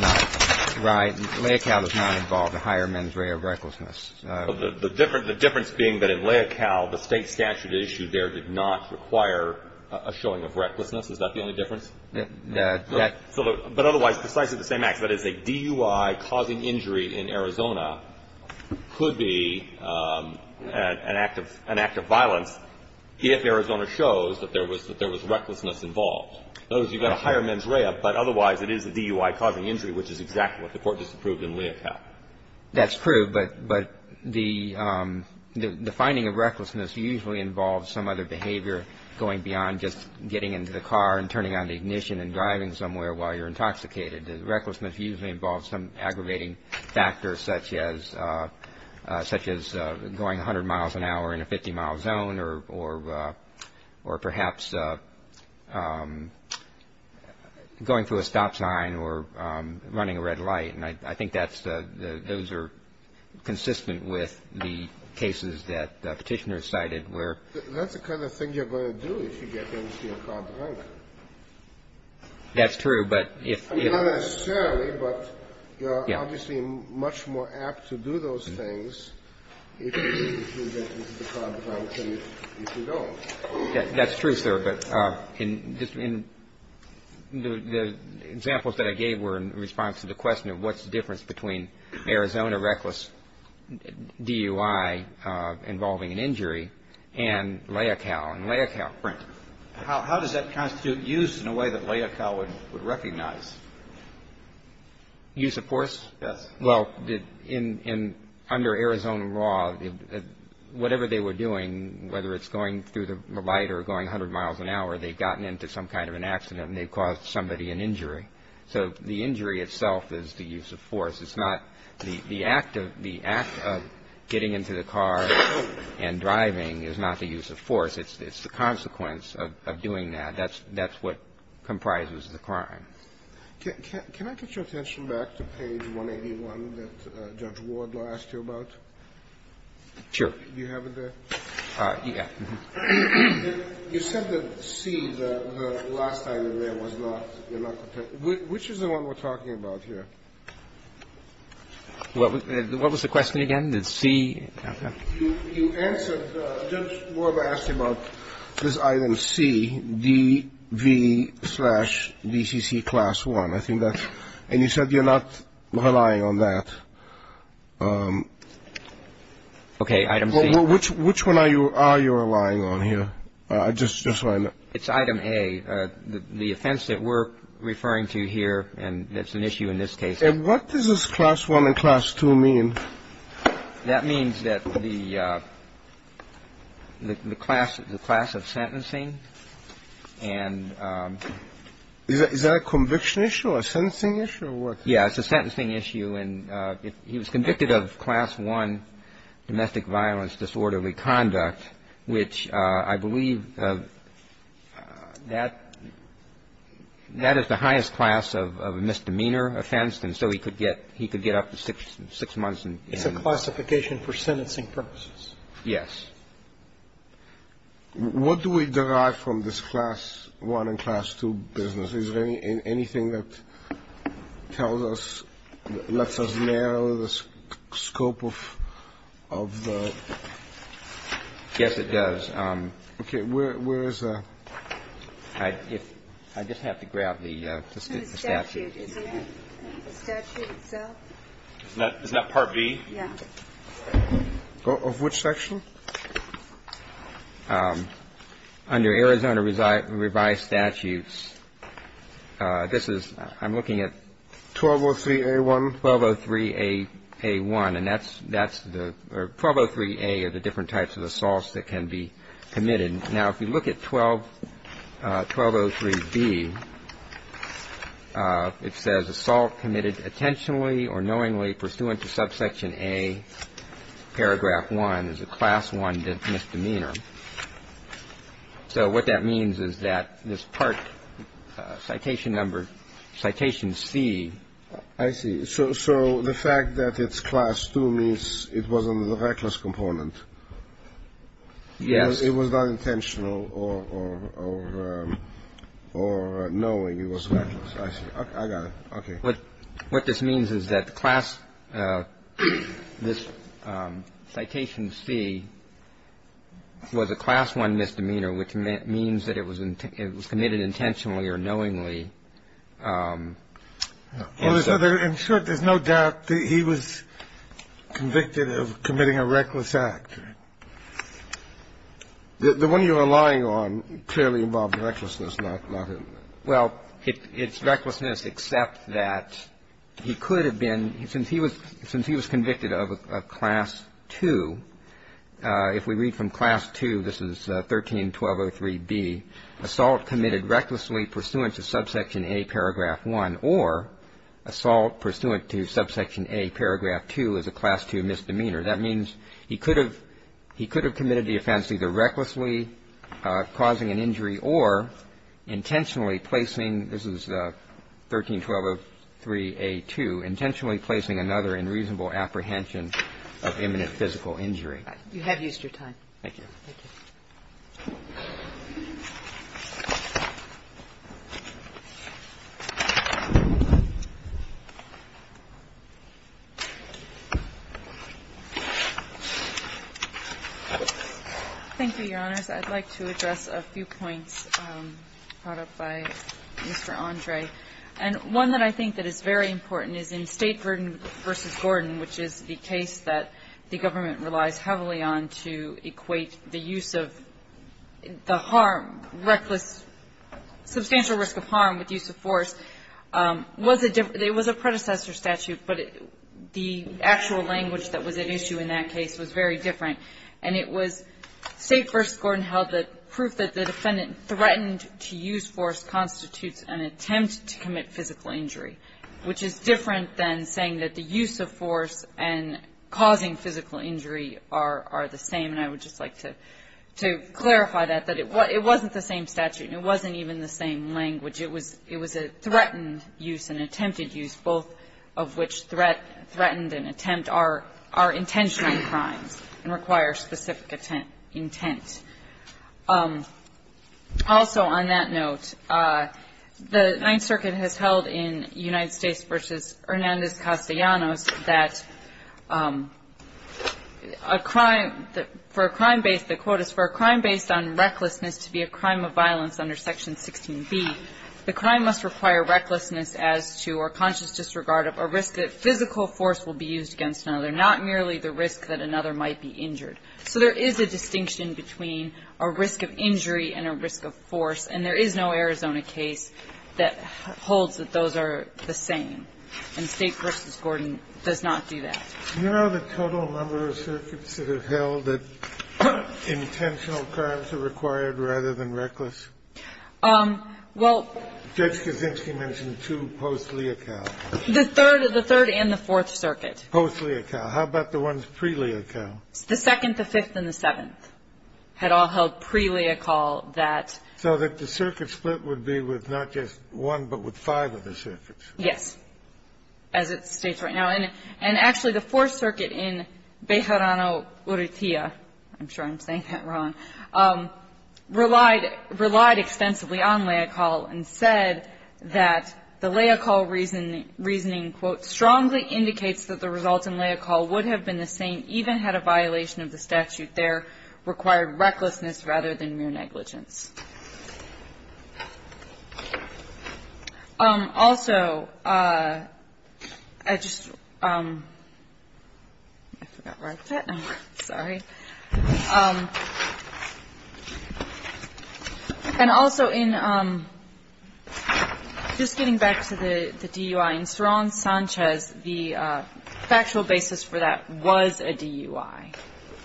not involve a higher mens rea of recklessness the difference being that in Leocal the state statute issue there did not require a showing of recklessness is that the only difference but otherwise precisely the same acts that is a DUI causing injury in Arizona could be an act of violence if Arizona shows that there was recklessness involved in other words you've got a higher mens rea but otherwise it is a DUI causing injury which is exactly what the court just approved in Leocal that's true but the finding of recklessness usually involves some other behavior going beyond just getting into the car and turning on the ignition and driving somewhere while you're intoxicated the recklessness usually involves some aggravating factors such as going 100 miles an hour in a 50 mile zone or perhaps going through a stop sign or running a red light I think those are consistent with the cases that petitioner cited that's the kind of thing you're going to do if you get into your car drunk that's true but not necessarily but you're obviously much more apt to do those things if you get into the car drunk than if you don't that's true sir but the examples that I gave were in response to the question of what's the difference between Arizona reckless DUI involving an injury and Leocal how does that constitute use in a way that Leocal would recognize use of force well under Arizona law whatever they were doing whether it's going through the light or going 100 miles an hour they've gotten into some kind of an accident and they've caused somebody an injury so the injury itself is the use of force it's not the act of getting into the car and driving is not the use of force it's the consequence of doing that that's what comprises the crime can I get your attention back to page 181 that Judge Wardlaw asked you about sure do you have it there you said that C the last time you were there was not which is the one we're talking about here what was the question again you answered Judge Wardlaw asked you about this item C DV slash DCC class 1 and you said you're not relying on that which one are you relying on here it's item A the offense that we're referring to here and it's an issue in this case and what does this class 1 and class 2 mean that means that the class the class of sentencing and is that a conviction issue a sentencing issue yeah it's a sentencing issue he was convicted of class 1 domestic violence disorderly conduct which I believe that is the highest class of misdemeanor offense and so he could get up to 6 months it's a classification for sentencing purposes yes what do we derive from this class 1 and class 2 business is there anything that tells us lets us narrow the scope of the yes it does where is I just have to grab the statute the statute itself isn't that part B of which section under Arizona revised statutes this is I'm looking at 1203 A1 1203 A1 and that's 1203 A are the different types of assaults that can be committed now if you look at 1203 B it says assault committed intentionally or knowingly pursuant to subsection A paragraph 1 is a class 1 misdemeanor so what that means is that this part citation number I see so the fact that it's class 2 means it was under the reckless component yes it was not intentional or knowing it was reckless I got it what this means is that this citation C was a class 1 misdemeanor which means that it was committed intentionally or knowingly in short there's no doubt that he was convicted of committing a reckless act the one you're relying on clearly involved recklessness well it's recklessness except that he could have been since he was convicted of class 2 if we read from class 2 this is 1303 B assault committed recklessly pursuant to subsection A paragraph 1 or assault pursuant to subsection A paragraph 2 is a class 2 misdemeanor that means he could have committed the offense either recklessly causing an injury or intentionally placing this is 1303 A2 intentionally placing another in reasonable apprehension of imminent physical injury you have used your time thank you your honors I'd like to address a few points brought up by Mr. Andre and one that I think that is very important is in Staten vs. Gordon which is the case that the government relies heavily on to equate the use of the harm reckless substantial risk of harm with use of force it was a predecessor statute but the actual language that was at issue in that case was very different and it was Staten vs. Gordon held that proof that the defendant threatened to use force constitutes an attempt to commit physical injury which is different than saying that the use of force and causing physical injury are the same and I would just like to clarify that it wasn't the same statute it wasn't even the same language it was a threatened use and attempted use both of which threatened and attempt are intentional crimes and require specific intent also on that note the 9th Circuit has held in United States vs. Hernandez-Castellanos that a crime for a crime based on recklessness to be a crime of violence under Section 16b the crime must require recklessness as to or conscious disregard of a risk that physical force will be used against another not merely the risk that another might be injured so there is a distinction between a risk of injury and a risk of force and there is no Arizona case that holds that those are the same and State vs. Gordon does not do that do you know the total number of circuits that have held that intentional crimes are required rather than reckless Judge Kaczynski mentioned two post-Leocal the 3rd and the 4th Circuit post-Leocal how about the ones pre-Leocal the 2nd, the 5th and the 7th had all held pre-Leocal that so that the circuit split would be with not just one but with five of the circuits yes as it states right now and actually the 4th I'm sure I'm saying that wrong relied extensively on Leocal and said that the Leocal reasoning strongly indicates that the results in Leocal would have been the same even had a violation of the statute there required recklessness rather than mere negligence also I just um I forgot where I put it sorry and also in just getting back to the DUI in Saron Sanchez the factual basis for that was a DUI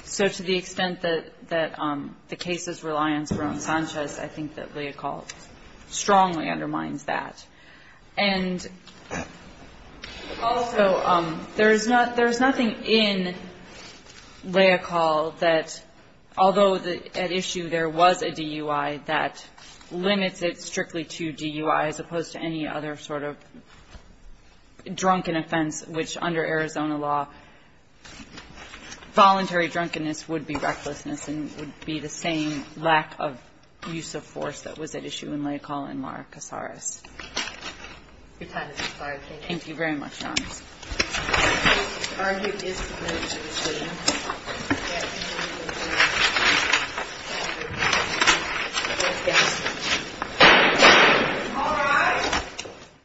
so to the extent that the cases rely on Saron Sanchez I think that Leocal strongly undermines that and also there is nothing in Leocal that although at issue there was a DUI that limits it strictly to DUI as opposed to any other sort of drunken offense which under Arizona law voluntary drunkenness would be recklessness and would be the same lack of use of force that was at issue in Leocal and Mara Casares your time has expired thank you very much your honor all rise